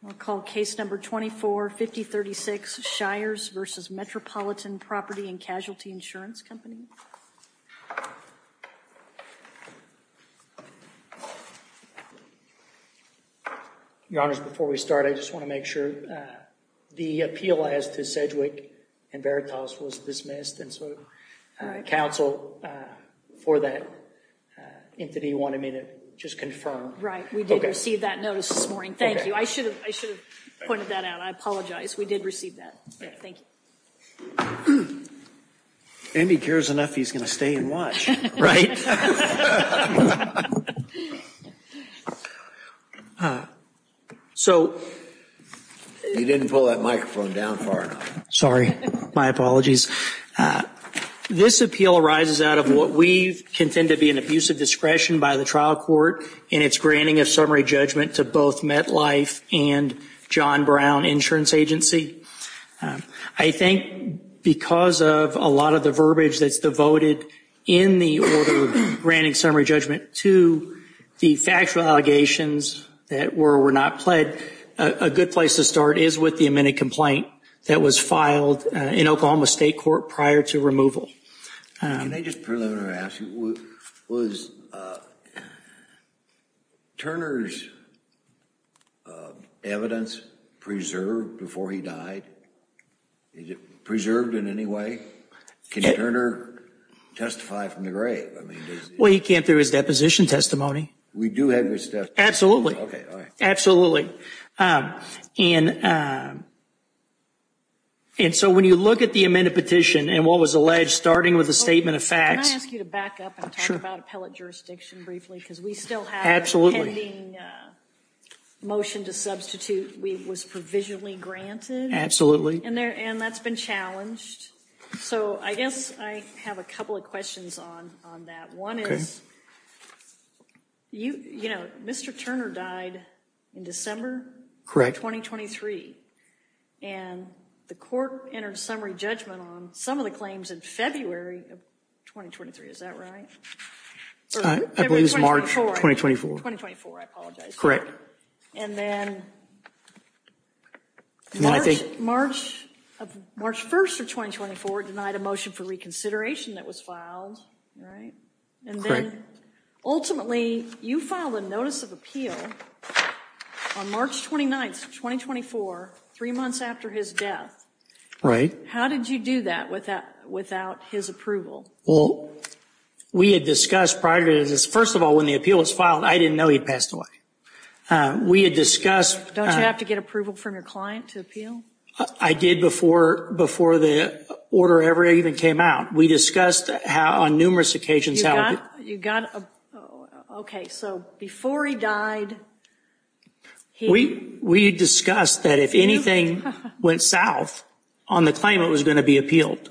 Your Honors, before we start, I just want to make sure the appeal as to Sedgwick and Veritas was dismissed, and so Council, for that entity, wanted me to just confirm. Right. We did receive that notice this morning. Thank you. I should have pointed that out. I apologize. We did receive that. Thank you. And he cares enough he's going to stay and watch, right? You didn't pull that microphone down far enough. Sorry. My apologies. This appeal arises out of what we contend to be an abuse of discretion by the trial court in its granting of summary judgment to both MetLife and John Brown Insurance Agency. I think because of a lot of the verbiage that's devoted in the order of granting summary judgment to the factual allegations that were or were not pled, a good place to start is with the amended complaint that was filed in Oklahoma State Court prior to removal. Can I just preliminarily ask you, was Turner's evidence preserved before he died? Is it preserved in any way? Can Turner testify from the grave? Well, he can't through his deposition testimony. We do have his testimony. Absolutely. Absolutely. And so when you look at the amended petition and what was alleged starting with a statement of facts. Can I ask you to back up and talk about appellate jurisdiction briefly because we still have a pending motion to substitute was provisionally granted. And that's been challenged. So I guess I have a couple of questions on that. One is, you know, Mr. Turner died in December. Correct. 2023. And the court entered summary judgment on some of the claims in February of 2023. Is that right? I believe it was March of 2024. 2024. I apologize. And then I think March of March 1st of 2024 denied a motion for reconsideration that was filed. Right. And then ultimately you filed a notice of appeal on March 29th, 2024, three months after his death. Right. How did you do that without without his approval? Well, we had discussed prior to this. First of all, when the appeal was filed, I didn't know he passed away. We had discussed. Don't you have to get approval from your client to appeal? I did before before the order ever even came out. We discussed how on numerous occasions. You got OK. So before he died. We we discussed that if anything went south on the claim, it was going to be appealed.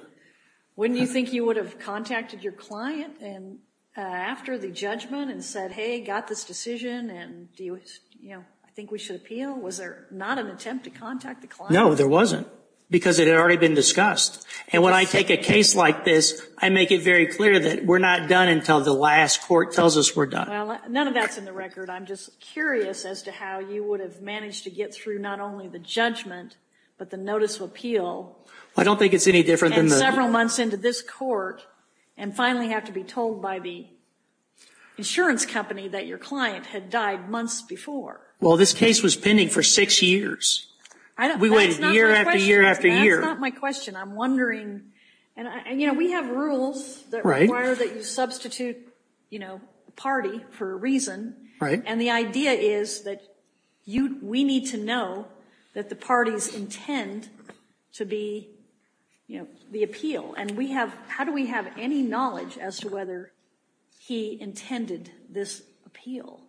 When do you think you would have contacted your client and after the judgment and said, hey, got this decision? And, you know, I think we should appeal. Was there not an attempt to contact the client? No, there wasn't, because it had already been discussed. And when I take a case like this, I make it very clear that we're not done until the last court tells us we're done. Well, none of that's in the record. I'm just curious as to how you would have managed to get through not only the judgment, but the notice of appeal. I don't think it's any different than several months into this court and finally have to be told by the insurance company that your client had died months before. Well, this case was pending for six years. We waited year after year after year. That's not my question. I'm wondering. And, you know, we have rules that require that you substitute, you know, party for a reason. Right. And the idea is that we need to know that the parties intend to be, you know, the appeal. And how do we have any knowledge as to whether he intended this appeal?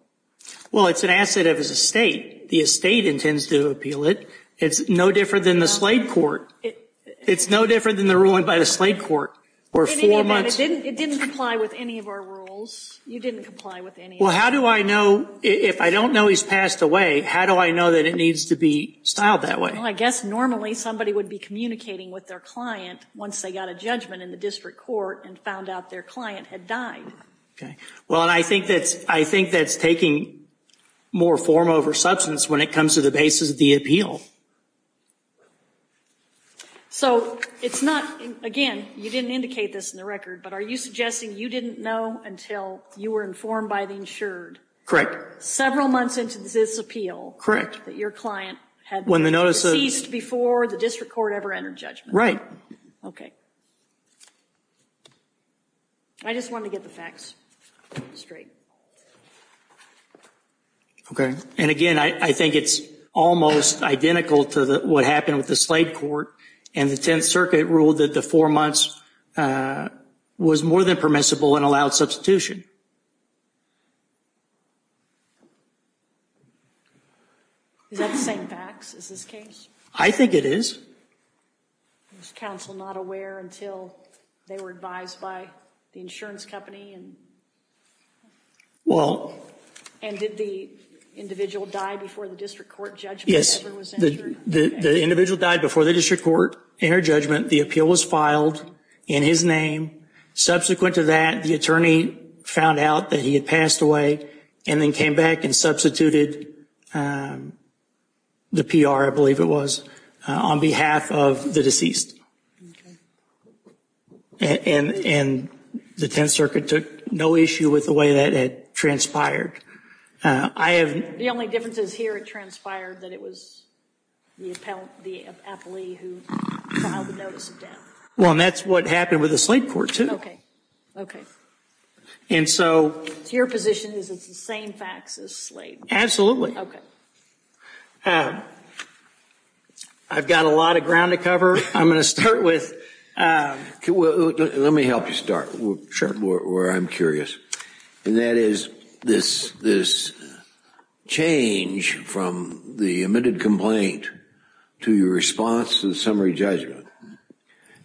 Well, it's an asset of his estate. The estate intends to appeal it. It's no different than the slate court. It's no different than the ruling by the slate court. It didn't comply with any of our rules. You didn't comply with any of them. Well, how do I know if I don't know he's passed away, how do I know that it needs to be styled that way? Well, I guess normally somebody would be communicating with their client once they got a judgment in the district court and found out their client had died. Okay. Well, and I think that's taking more form over substance when it comes to the basis of the appeal. So it's not, again, you didn't indicate this in the record, but are you suggesting you didn't know until you were informed by the insured? Several months into this appeal. That your client had ceased before the district court ever entered judgment. Right. Okay. I just wanted to get the facts straight. Okay. And again, I think it's almost identical to what happened with the slate court. And the Tenth Circuit ruled that the four months was more than permissible and allowed substitution. Is that the same facts as this case? I think it is. Was counsel not aware until they were advised by the insurance company? Well. And did the individual die before the district court judgment ever was insured? The individual died before the district court entered judgment. The appeal was filed in his name. Subsequent to that, the attorney found out that he had passed away and then came back and substituted the PR, I believe it was, on behalf of the deceased. Okay. And the Tenth Circuit took no issue with the way that it transpired. The only difference is here it transpired that it was the appellee who filed the notice of death. Well, and that's what happened with the slate court, too. Okay. And so. So your position is it's the same facts as slate? Absolutely. Okay. I've got a lot of ground to cover. I'm going to start with. Let me help you start. Where I'm curious. And that is this change from the admitted complaint to your response to the summary judgment.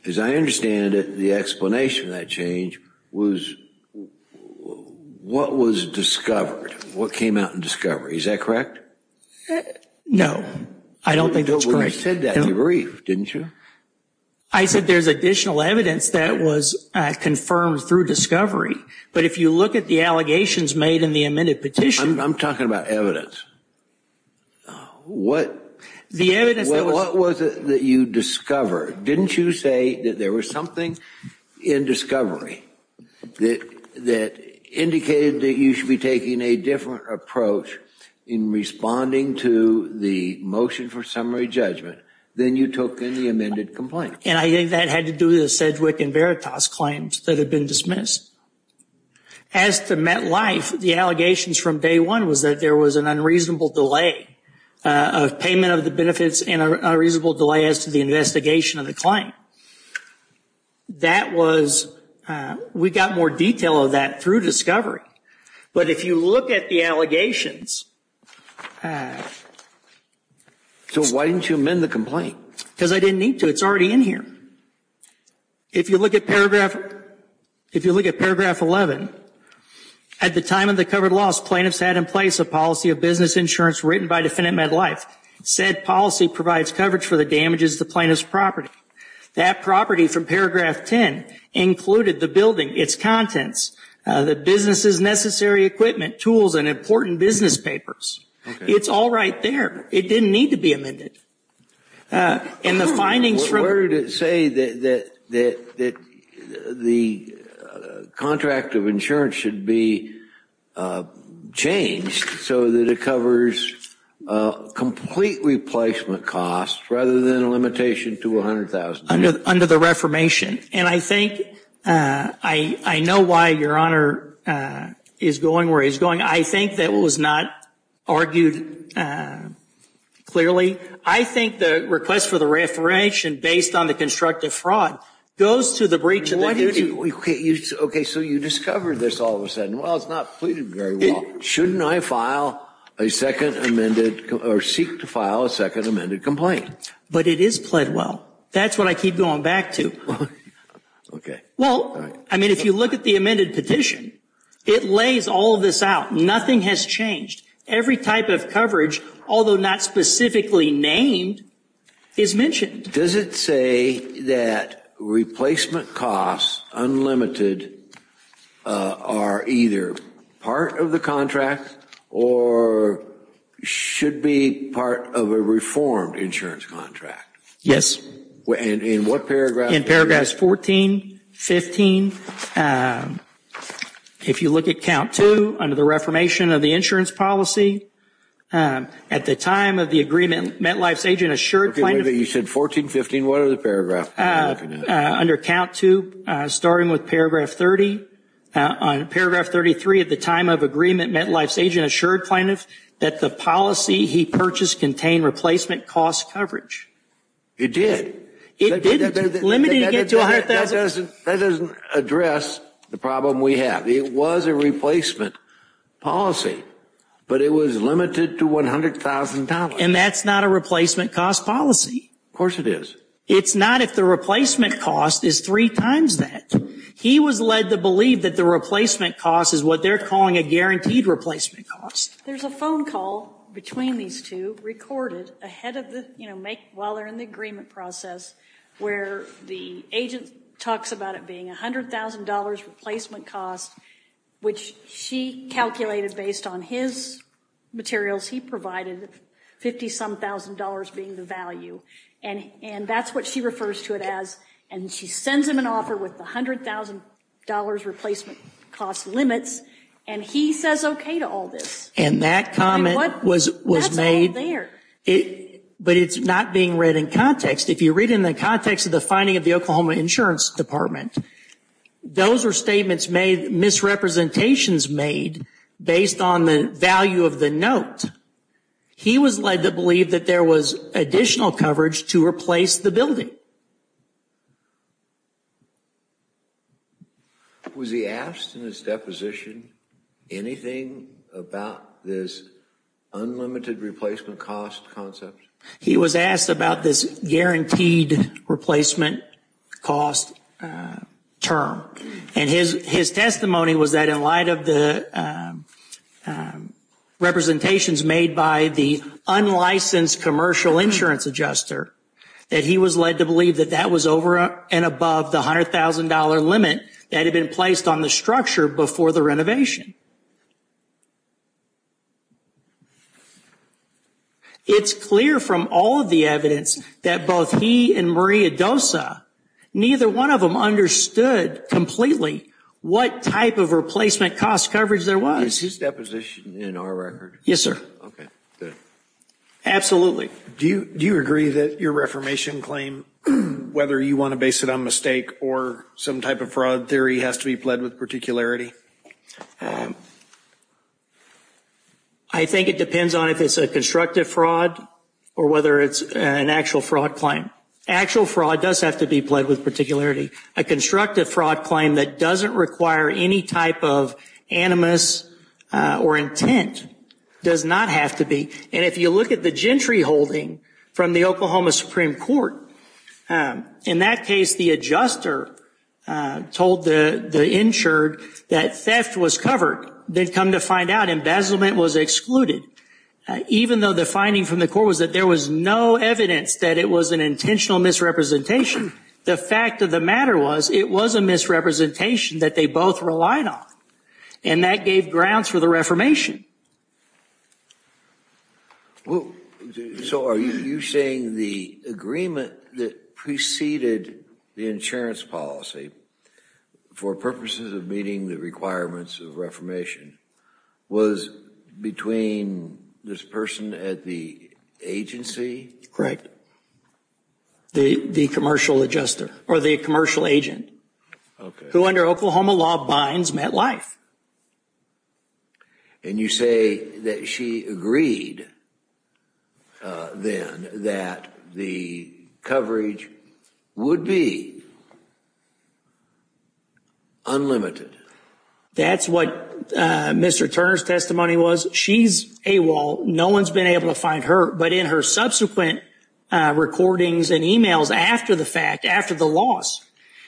As I understand it, the explanation of that change was what was discovered, what came out in discovery. Is that correct? No. I don't think that's correct. You said that in your brief, didn't you? I said there's additional evidence that was confirmed through discovery. But if you look at the allegations made in the amended petition. I'm talking about evidence. What? The evidence that was. What was it that you discovered? Didn't you say that there was something in discovery that indicated that you should be taking a different approach in responding to the motion for summary judgment than you took in the amended complaint? And I think that had to do with the Sedgwick and Veritas claims that had been dismissed. As to MetLife, the allegations from day one was that there was an unreasonable delay of payment of the benefits and an unreasonable delay as to the investigation of the claim. That was, we got more detail of that through discovery. But if you look at the allegations. So why didn't you amend the complaint? Because I didn't need to. It's already in here. If you look at paragraph, if you look at paragraph 11. At the time of the covered loss, plaintiffs had in place a policy of business insurance written by defendant MetLife. Said policy provides coverage for the damages to plaintiff's property. That property from paragraph 10 included the building, its contents, the business's necessary equipment, tools, and important business papers. It's all right there. It didn't need to be amended. Where did it say that the contract of insurance should be changed so that it covers complete replacement costs rather than a limitation to $100,000? Under the reformation. And I think, I know why your honor is going where he's going. I think that was not argued clearly. I think the request for the reformation based on the constructive fraud goes to the breach of the duty. Okay, so you discovered this all of a sudden. Well, it's not pleaded very well. Shouldn't I file a second amended or seek to file a second amended complaint? But it is pled well. That's what I keep going back to. Okay. Well, I mean, if you look at the amended petition, it lays all of this out. Nothing has changed. Every type of coverage, although not specifically named, is mentioned. Does it say that replacement costs, unlimited, are either part of the contract or should be part of a reformed insurance contract? Yes. In what paragraph? In paragraphs 14, 15. If you look at count two, under the reformation of the insurance policy, at the time of the agreement, MetLife's agent assured plaintiff. You said 14, 15. What other paragraph? Under count two, starting with paragraph 30. On paragraph 33, at the time of agreement, MetLife's agent assured plaintiff that the policy he purchased contained replacement cost coverage. It did? It did. Limited to get to $100,000. That doesn't address the problem we have. It was a replacement policy, but it was limited to $100,000. And that's not a replacement cost policy. Of course it is. It's not if the replacement cost is three times that. He was led to believe that the replacement cost is what they are calling a guaranteed replacement cost. There's a phone call between these two, recorded, while they are in the agreement process, where the agent talks about it being $100,000 replacement cost, which she calculated based on his materials he provided, $50-some-thousand being the value. And that's what she refers to it as. And she sends him an offer with the $100,000 replacement cost limits. And he says okay to all this. And that comment was made. But it's not being read in context. If you read it in the context of the finding of the Oklahoma Insurance Department, those are statements made, misrepresentations made, based on the value of the note. He was led to believe that there was additional coverage to replace the building. Was he asked in his deposition anything about this unlimited replacement cost concept? He was asked about this guaranteed replacement cost term. And his testimony was that in light of the representations made by the unlicensed commercial insurance adjuster, that he was led to believe that that was over and above the $100,000 limit that had been placed on the structure before the renovation. It's clear from all of the evidence that both he and Maria Dosa, neither one of them understood completely what type of replacement cost coverage there was. Is his deposition in our record? Yes, sir. Okay, good. Absolutely. Do you agree that your reformation claim, whether you want to base it on mistake or some type of fraud theory, has to be pled with particularity? I think it depends on if it's a constructive fraud or whether it's an actual fraud claim. Actual fraud does have to be pled with particularity. A constructive fraud claim that doesn't require any type of animus or intent does not have to be. And if you look at the gentry holding from the Oklahoma Supreme Court, in that case the adjuster told the insured that theft was covered. They'd come to find out embezzlement was excluded. Even though the finding from the court was that there was no evidence that it was an intentional misrepresentation, the fact of the matter was it was a misrepresentation that they both relied on. And that gave grounds for the reformation. So are you saying the agreement that preceded the insurance policy for purposes of meeting the requirements of reformation was between this person at the agency? Correct. The commercial adjuster, or the commercial agent, who under Oklahoma law binds MetLife. And you say that she agreed then that the coverage would be unlimited. That's what Mr. Turner's testimony was. She's AWOL. No one's been able to find her. But in her subsequent recordings and emails after the fact, after the loss,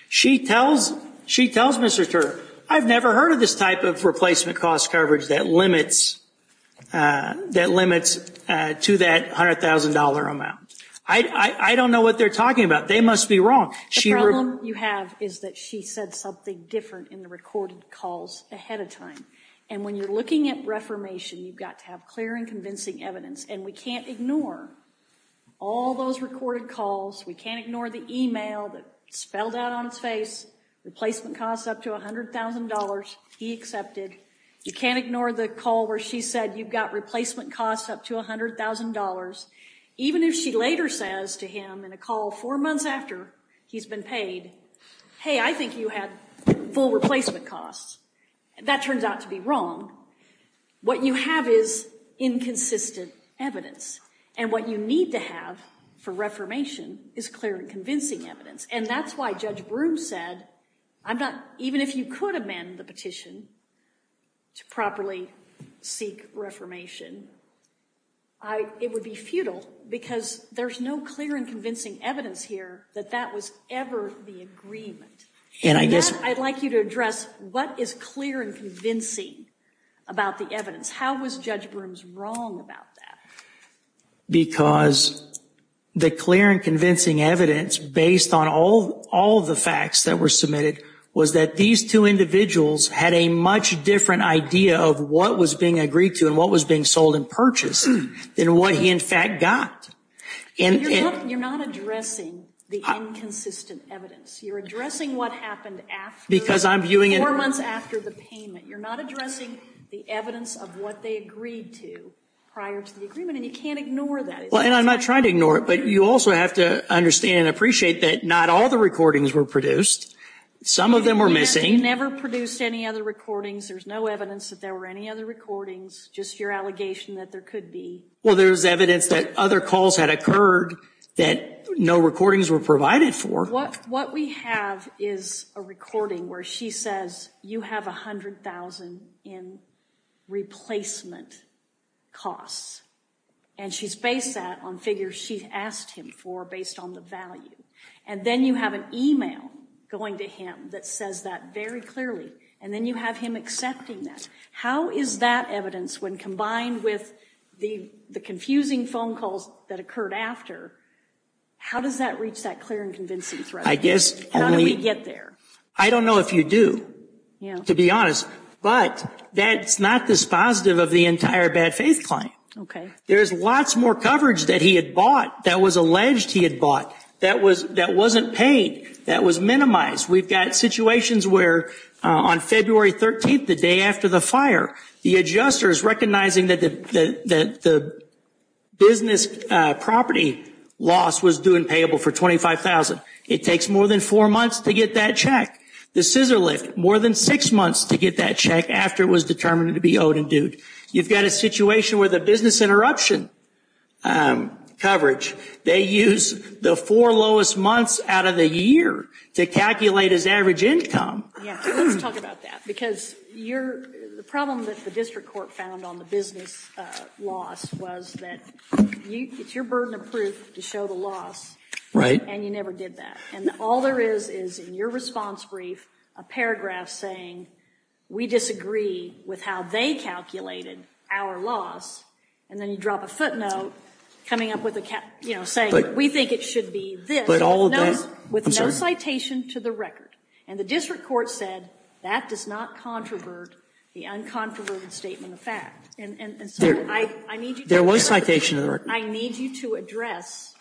she tells Mr. Turner, I've never heard of this type of replacement cost coverage that limits to that $100,000 amount. I don't know what they're talking about. They must be wrong. The problem you have is that she said something different in the recorded calls ahead of time. And when you're looking at reformation, you've got to have clear and convincing evidence. And we can't ignore all those recorded calls. We can't ignore the email that spelled out on his face, replacement costs up to $100,000, he accepted. You can't ignore the call where she said you've got replacement costs up to $100,000. Even if she later says to him in a call four months after he's been paid, hey, I think you had full replacement costs. That turns out to be wrong. What you have is inconsistent evidence. And what you need to have for reformation is clear and convincing evidence. And that's why Judge Broome said, even if you could amend the petition to properly seek reformation, it would be futile because there's no clear and convincing evidence here that that was ever the agreement. And I guess I'd like you to address what is clear and convincing about the evidence. How was Judge Broome's wrong about that? Because the clear and convincing evidence, based on all the facts that were submitted, was that these two individuals had a much different idea of what was being agreed to and what was being sold and purchased than what he, in fact, got. You're not addressing the inconsistent evidence. You're addressing what happened after four months after the payment. You're not addressing the evidence of what they agreed to prior to the agreement, and you can't ignore that. And I'm not trying to ignore it, but you also have to understand and appreciate that not all the recordings were produced. Some of them were missing. You never produced any other recordings. There's no evidence that there were any other recordings, just your allegation that there could be. Well, there's evidence that other calls had occurred that no recordings were provided for. What we have is a recording where she says you have $100,000 in replacement costs, and she's based that on figures she asked him for based on the value. And then you have an email going to him that says that very clearly, and then you have him accepting that. How is that evidence, when combined with the confusing phone calls that occurred after, how does that reach that clear and convincing thread? How did we get there? I don't know if you do, to be honest, but that's not dispositive of the entire bad faith claim. There's lots more coverage that he had bought that was alleged he had bought that wasn't paid, that was minimized. We've got situations where on February 13th, the day after the fire, the adjuster is recognizing that the business property loss was due and payable for $25,000. It takes more than four months to get that check. The scissor lift, more than six months to get that check after it was determined to be owed and dued. You've got a situation where the business interruption coverage, they use the four lowest months out of the year to calculate his average income. Yeah, let's talk about that. Because the problem that the district court found on the business loss was that it's your burden of proof to show the loss. Right. And you never did that. And all there is, is in your response brief, a paragraph saying, we disagree with how they calculated our loss. And then you drop a footnote coming up with a, you know, saying we think it should be this. But all of that. With no citation to the record. And the district court said that does not controvert the uncontroverted statement of fact. And so I need you to address. There was citation to the record. I need you to address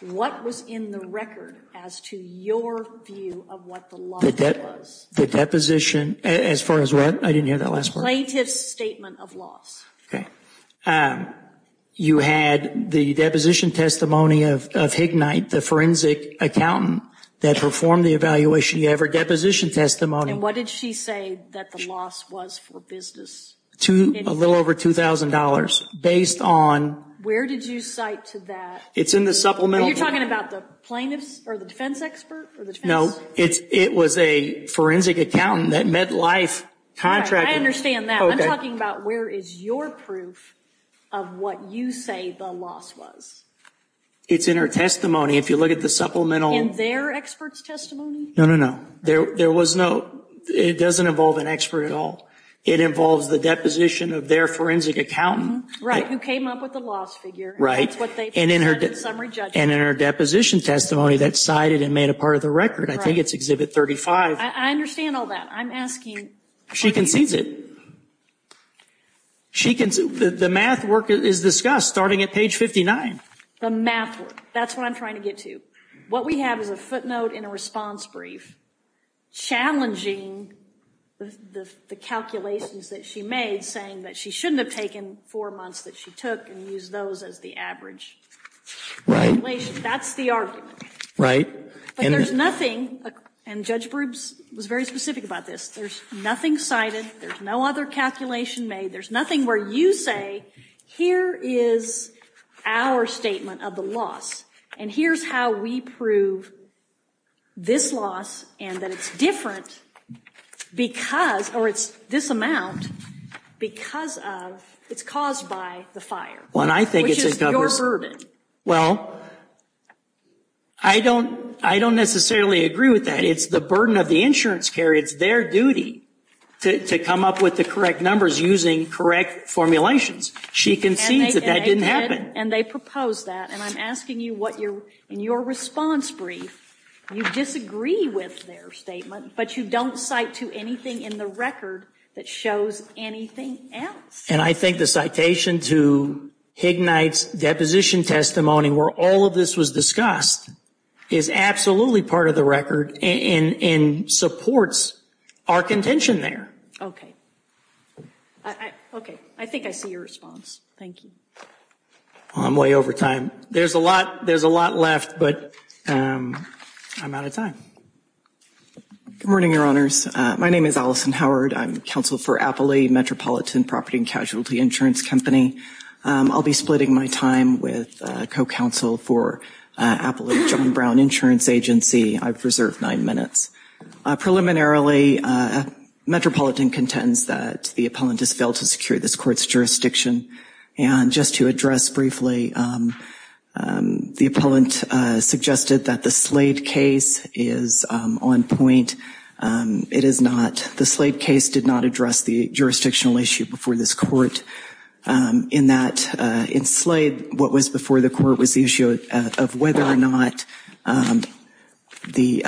what was in the record as to your view of what the loss was. The deposition. As far as what? I didn't hear that last part. The plaintiff's statement of loss. Okay. You had the deposition testimony of Hignight, the forensic accountant that performed the evaluation. You have her deposition testimony. And what did she say that the loss was for business? A little over $2,000. Based on. Where did you cite to that? It's in the supplemental. Are you talking about the plaintiff's or the defense expert? No. It was a forensic accountant that met life contract. I understand that. I'm talking about where is your proof of what you say the loss was. It's in her testimony. If you look at the supplemental. In their expert's testimony? No, no, no. There was no. It doesn't involve an expert at all. It involves the deposition of their forensic accountant. Right. Who came up with the loss figure. Right. That's what they said in summary judgment. And in her deposition testimony that cited and made a part of the record. I think it's exhibit 35. I understand all that. I'm asking. She concedes it. The math work is discussed starting at page 59. The math work. That's what I'm trying to get to. What we have is a footnote in a response brief challenging the calculations that she made saying that she shouldn't have taken four months that she took and used those as the average. Right. That's the argument. And there's nothing. And Judge Brubes was very specific about this. There's nothing cited. There's no other calculation made. There's nothing where you say here is our statement of the loss. And here's how we prove this loss and that it's different because or it's this amount because of it's caused by the fire. Which is your burden. Well, I don't necessarily agree with that. It's the burden of the insurance carrier. It's their duty to come up with the correct numbers using correct formulations. She concedes that that didn't happen. And they proposed that. And I'm asking you what your response brief. You disagree with their statement, but you don't cite to anything in the record that shows anything else. And I think the citation to Hignight's deposition testimony where all of this was discussed is absolutely part of the record and supports our contention there. Okay. Okay. I think I see your response. Thank you. I'm way over time. There's a lot. There's a lot left, but I'm out of time. Good morning, Your Honors. My name is Allison Howard. I'm counsel for Appley Metropolitan Property and Casualty Insurance Company. I'll be splitting my time with co-counsel for Appley John Brown Insurance Agency. I've reserved nine minutes. Preliminarily, Metropolitan contends that the appellant has failed to secure this court's jurisdiction. And just to address briefly, the appellant suggested that the Slade case is on point. It is not. The Slade case did not address the jurisdictional issue before this court in that, in Slade, what was before the court was the issue of whether or not the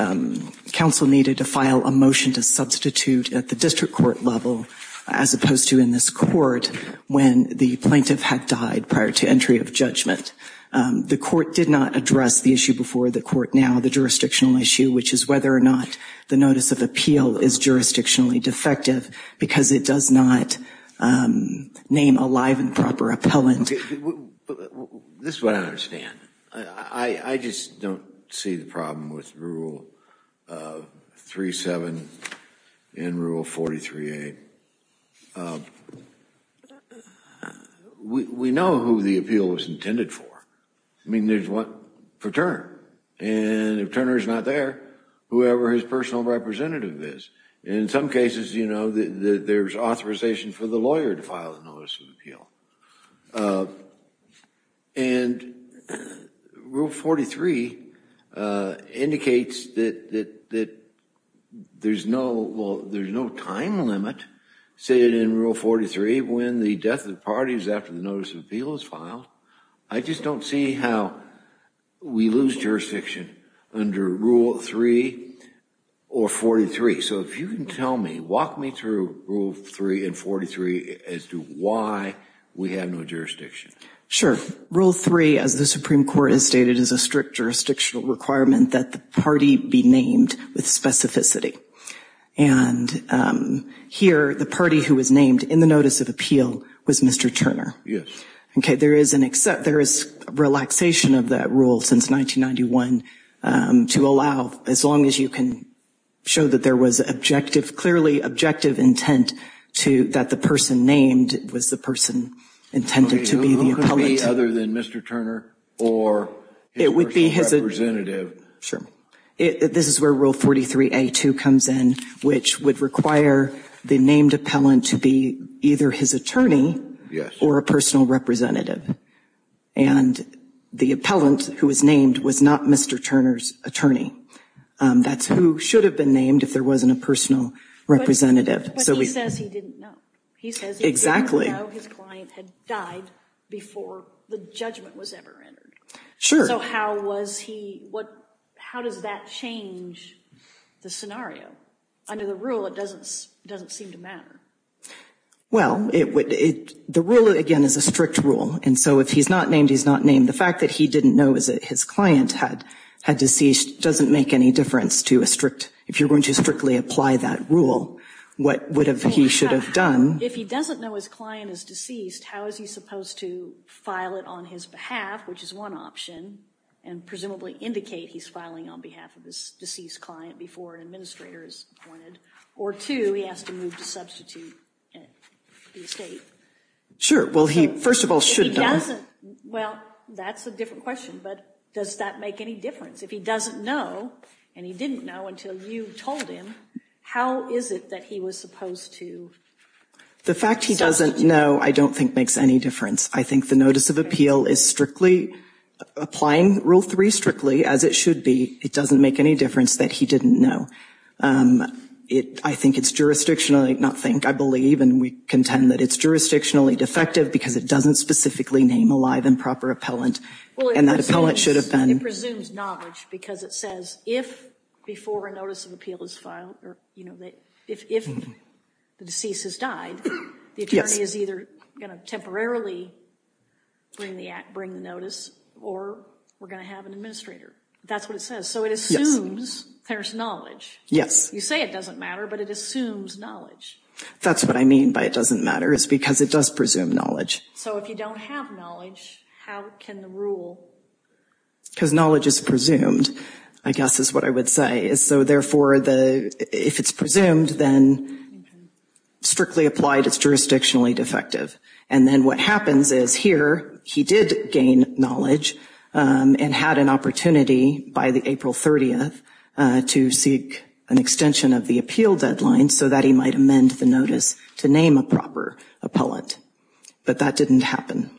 counsel needed to file a motion to substitute at the district court level, as opposed to in this court when the plaintiff had died prior to entry of judgment. The court did not address the issue before the court now, the jurisdictional issue, which is whether or not the notice of appeal is jurisdictionally defective because it does not name a live and proper appellant. This is what I don't understand. I just don't see the problem with Rule 3-7 and Rule 43-8. We know who the appeal was intended for. I mean, there's one for Turner. And if Turner is not there, whoever his personal representative is. In some cases, you know, there's authorization for the lawyer to file a notice of appeal. And Rule 43 indicates that there's no, well, there's no time limit, say it in Rule 43, when the death of the parties after the notice of appeal is filed. I just don't see how we lose jurisdiction under Rule 3 or 43. So if you can tell me, walk me through Rule 3 and 43 as to why we have no jurisdiction. Rule 3, as the Supreme Court has stated, is a strict jurisdictional requirement that the party be named with specificity. And here, the party who was named in the notice of appeal was Mr. Turner. Yes. Okay, there is relaxation of that rule since 1991 to allow, as long as you can show that there was clearly objective intent that the person named was the person intended to be the appellant. Okay, who could it be other than Mr. Turner or his personal representative? Sure. This is where Rule 43-A-2 comes in, which would require the named appellant to be either his attorney or a personal representative. And the appellant who was named was not Mr. Turner's attorney. That's who should have been named if there wasn't a personal representative. But he says he didn't know. Exactly. He says he didn't know his client had died before the judgment was ever entered. Sure. So how does that change the scenario? Under the rule, it doesn't seem to matter. Well, the rule, again, is a strict rule. And so if he's not named, he's not named. The fact that he didn't know his client had deceased doesn't make any difference to a strict – if you're going to strictly apply that rule, what he should have done – If he doesn't know his client is deceased, how is he supposed to file it on his behalf, which is one option, and presumably indicate he's filing on behalf of his deceased client before an administrator is appointed? Or two, he has to move to substitute the estate. Sure. Well, he first of all should – If he doesn't – well, that's a different question. But does that make any difference? If he doesn't know, and he didn't know until you told him, how is it that he was supposed to substitute? The fact he doesn't know I don't think makes any difference. I think the notice of appeal is strictly – applying Rule 3 strictly as it should be, it doesn't make any difference that he didn't know. I think it's jurisdictionally – not think, I believe, and we contend that it's jurisdictionally defective because it doesn't specifically name a live and proper appellant. And that appellant should have been – It presumes knowledge because it says if, before a notice of appeal is filed, if the deceased has died, the attorney is either going to temporarily bring the notice or we're going to have an administrator. That's what it says. So it assumes there's knowledge. Yes. You say it doesn't matter, but it assumes knowledge. That's what I mean by it doesn't matter, is because it does presume knowledge. So if you don't have knowledge, how can the rule – Because knowledge is presumed, I guess is what I would say. So therefore, if it's presumed, then strictly applied, it's jurisdictionally defective. And then what happens is here he did gain knowledge and had an opportunity by the April 30th to seek an extension of the appeal deadline so that he might amend the notice to name a proper appellant. But that didn't happen.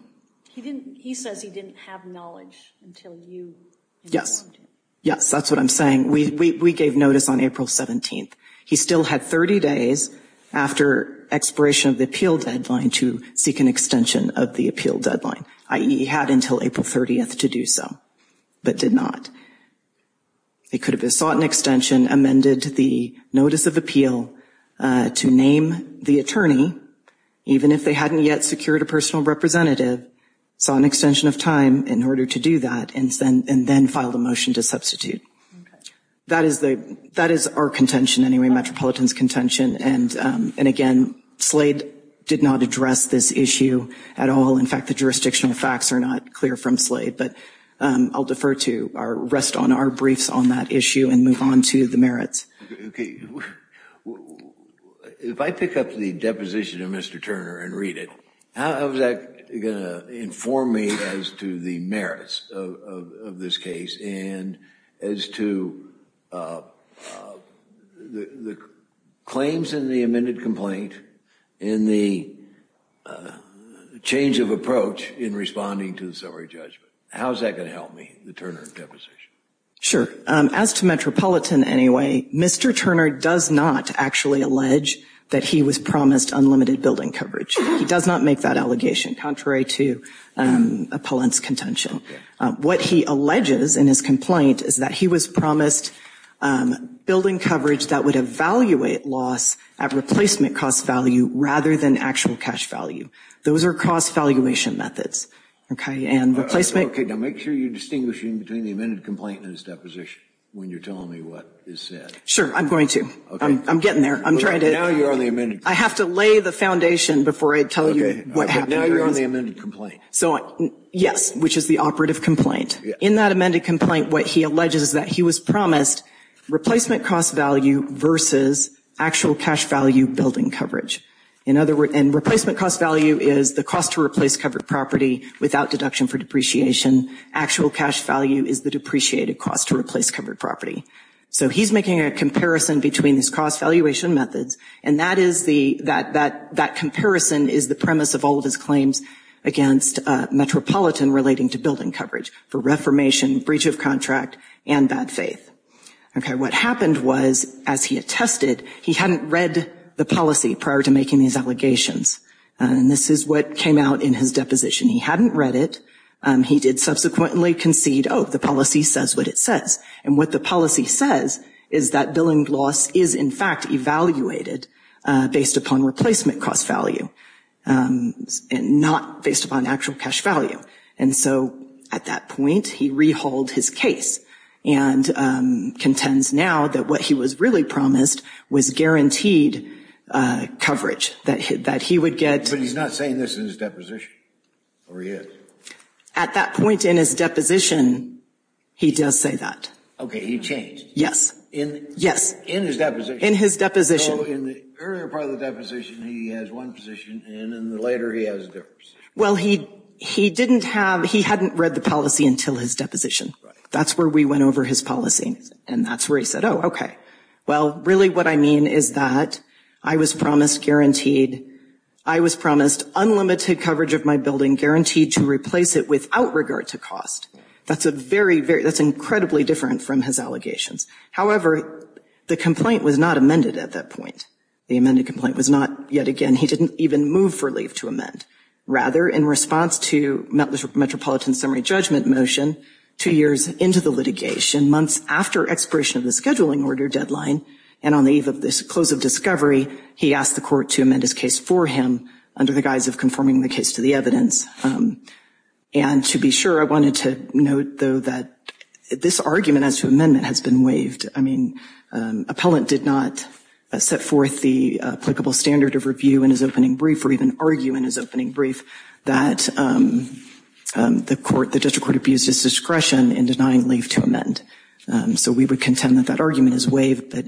He says he didn't have knowledge until you informed him. Yes, that's what I'm saying. We gave notice on April 17th. He still had 30 days after expiration of the appeal deadline to seek an extension of the appeal deadline. I.e., he had until April 30th to do so, but did not. It could have been sought an extension, amended the notice of appeal to name the attorney, even if they hadn't yet secured a personal representative, sought an extension of time in order to do that, and then filed a motion to substitute. That is our contention anyway, Metropolitan's contention. And again, Slade did not address this issue at all. In fact, the jurisdictional facts are not clear from Slade. But I'll defer to our – rest on our briefs on that issue and move on to the merits. Okay. If I pick up the deposition of Mr. Turner and read it, how is that going to inform me as to the merits of this case and as to the claims in the amended complaint and the change of approach in responding to the summary judgment? How is that going to help me, the Turner deposition? Sure. As to Metropolitan anyway, Mr. Turner does not actually allege that he was promised unlimited building coverage. He does not make that allegation, contrary to Appellant's contention. What he alleges in his complaint is that he was promised building coverage that would evaluate loss at replacement cost value rather than actual cash value. Those are cost valuation methods. Now, make sure you distinguish between the amended complaint and his deposition when you're telling me what is said. Sure, I'm going to. I'm getting there. I'm trying to – Now you're on the amended complaint. I have to lay the foundation before I tell you what happened. Now you're on the amended complaint. Yes, which is the operative complaint. In that amended complaint, what he alleges is that he was promised replacement cost value versus actual cash value building coverage. And replacement cost value is the cost to replace covered property without deduction for depreciation. Actual cash value is the depreciated cost to replace covered property. So he's making a comparison between these cost valuation methods, and that comparison is the premise of all of his claims against Metropolitan relating to building coverage for reformation, breach of contract, and bad faith. What happened was, as he attested, he hadn't read the policy prior to making these allegations. And this is what came out in his deposition. He hadn't read it. He did subsequently concede, oh, the policy says what it says. And what the policy says is that billing loss is, in fact, evaluated based upon replacement cost value and not based upon actual cash value. And so at that point, he rehauled his case. And contends now that what he was really promised was guaranteed coverage, that he would get. But he's not saying this in his deposition, or he is? At that point in his deposition, he does say that. Okay, he changed. Yes. In his deposition. In his deposition. So in the earlier part of the deposition, he has one position, and then later he has a different position. Well, he didn't have, he hadn't read the policy until his deposition. That's where we went over his policy. And that's where he said, oh, okay. Well, really what I mean is that I was promised guaranteed, I was promised unlimited coverage of my building, guaranteed to replace it without regard to cost. That's a very, very, that's incredibly different from his allegations. However, the complaint was not amended at that point. The amended complaint was not, yet again, he didn't even move for leave to amend. Rather, in response to the Metropolitan summary judgment motion, two years into the litigation, months after expiration of the scheduling order deadline, and on the eve of this close of discovery, he asked the court to amend his case for him under the guise of conforming the case to the evidence. And to be sure, I wanted to note, though, that this argument as to amendment has been waived. I mean, appellant did not set forth the applicable standard of review in his opening brief that the court, the district court abused his discretion in denying leave to amend. So we would contend that that argument is waived, but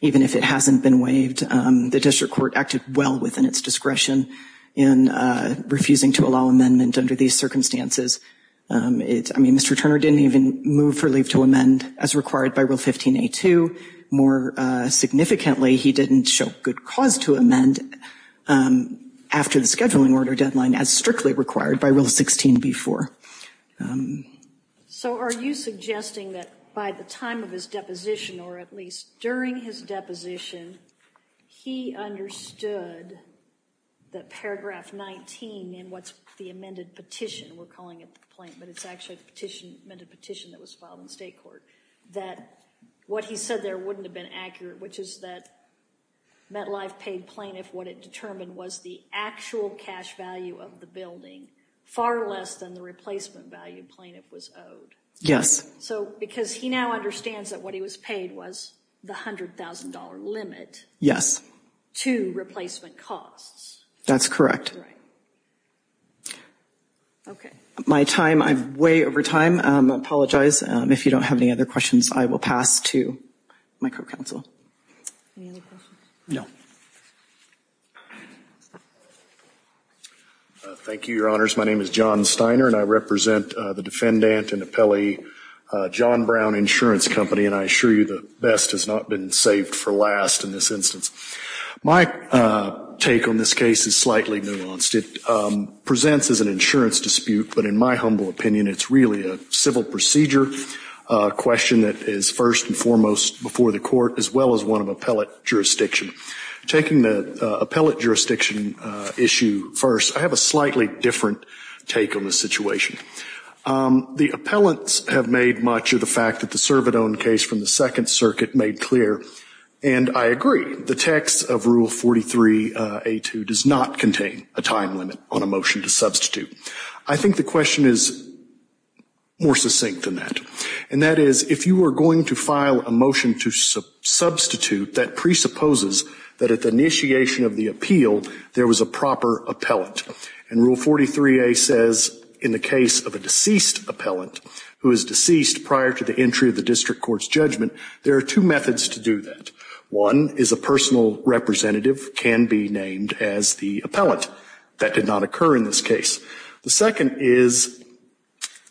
even if it hasn't been waived, the district court acted well within its discretion in refusing to allow amendment under these circumstances. I mean, Mr. Turner didn't even move for leave to amend, as required by Rule 15A2. More significantly, he didn't show good cause to amend. After the scheduling order deadline as strictly required by Rule 16B4. So are you suggesting that by the time of his deposition, or at least during his deposition, he understood that paragraph 19 in what's the amended petition, we're calling it the plaintiff, but it's actually a petition that was filed in state court, that what he said there wouldn't have been accurate, which is that MetLife paid plaintiff what it determined was the actual cash value of the building, far less than the replacement value plaintiff was owed. Yes. So because he now understands that what he was paid was the $100,000 limit. Yes. To replacement costs. That's correct. Okay. My time, I'm way over time. I apologize if you don't have any other questions, I will pass to my co-counsel. Any other questions? No. Thank you, your honors. My name is John Steiner, and I represent the defendant and appellee John Brown Insurance Company, and I assure you the best has not been saved for last in this instance. My take on this case is slightly nuanced. It presents as an insurance dispute, but in my humble opinion, it's really a civil procedure question that is first and foremost before the court, as well as one of appellate jurisdiction. Taking the appellate jurisdiction issue first, I have a slightly different take on the situation. The appellants have made much of the fact that the Cervidone case from the Second Circuit made clear, and I agree, the text of Rule 43A2 does not contain a time limit on a motion to substitute. I think the question is more succinct than that, and that is if you are going to file a motion to substitute, that presupposes that at the initiation of the appeal, there was a proper appellant. And Rule 43A says in the case of a deceased appellant, who is deceased prior to the entry of the district court's judgment, there are two methods to do that. One is a personal representative can be named as the appellant. That did not occur in this case. The second is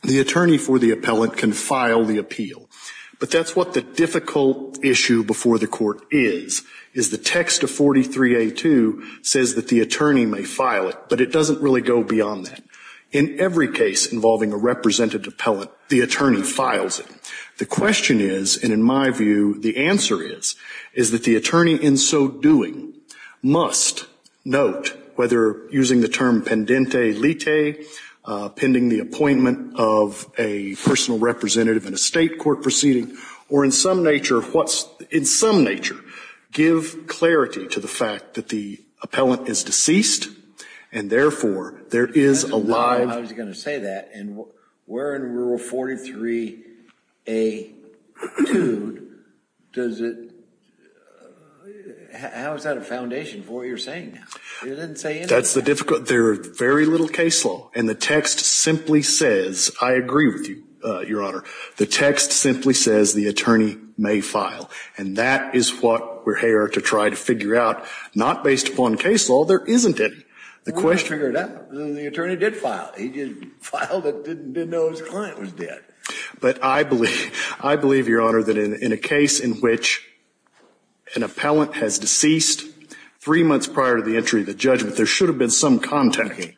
the attorney for the appellant can file the appeal. But that's what the difficult issue before the court is, is the text of 43A2 says that the attorney may file it, but it doesn't really go beyond that. In every case involving a representative appellant, the attorney files it. The question is, and in my view the answer is, is that the attorney in so doing must note, whether using the term pendente lite, pending the appointment of a personal representative in a state court proceeding, or in some nature, give clarity to the fact that the appellant is deceased, and therefore there is a live. I was going to say that. And where in rule 43A2 does it, how is that a foundation for what you're saying now? You didn't say anything. That's the difficult, there are very little case law. And the text simply says, I agree with you, Your Honor, the text simply says the attorney may file. And that is what we're here to try to figure out. Not based upon case law, there isn't any. The question. The attorney did file. He filed it, didn't know his client was dead. But I believe, Your Honor, that in a case in which an appellant has deceased three months prior to the entry of the judgment, there should have been some contact.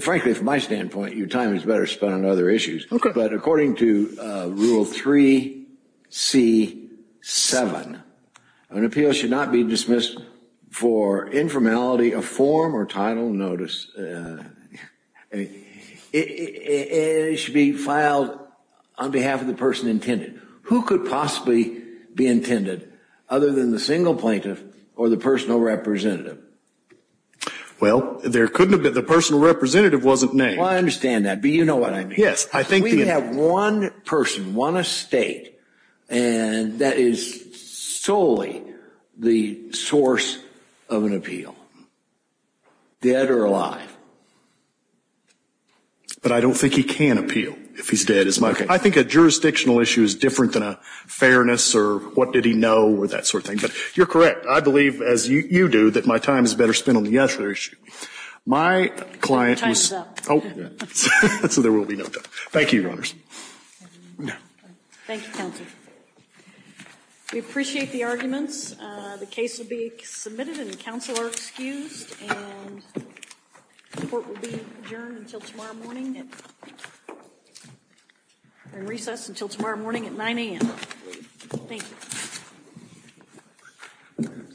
Frankly, from my standpoint, your time is better spent on other issues. Okay. But according to rule 3C7, an appeal should not be dismissed for informality of form or title notice. It should be filed on behalf of the person intended. Who could possibly be intended other than the single plaintiff or the personal representative? Well, there couldn't have been. The personal representative wasn't named. Well, I understand that. But you know what I mean. Yes. We have one person, one estate, and that is solely the source of an appeal, dead or alive. But I don't think he can appeal if he's dead. I think a jurisdictional issue is different than a fairness or what did he know or that sort of thing. But you're correct. I believe, as you do, that my time is better spent on the other issue. My client was. Time is up. So there will be no time. Thank you, Your Honors. Thank you, Counsel. We appreciate the arguments. The case will be submitted and the counsel are excused. And the court will be adjourned until tomorrow morning. We're in recess until tomorrow morning at 9 a.m. Thank you.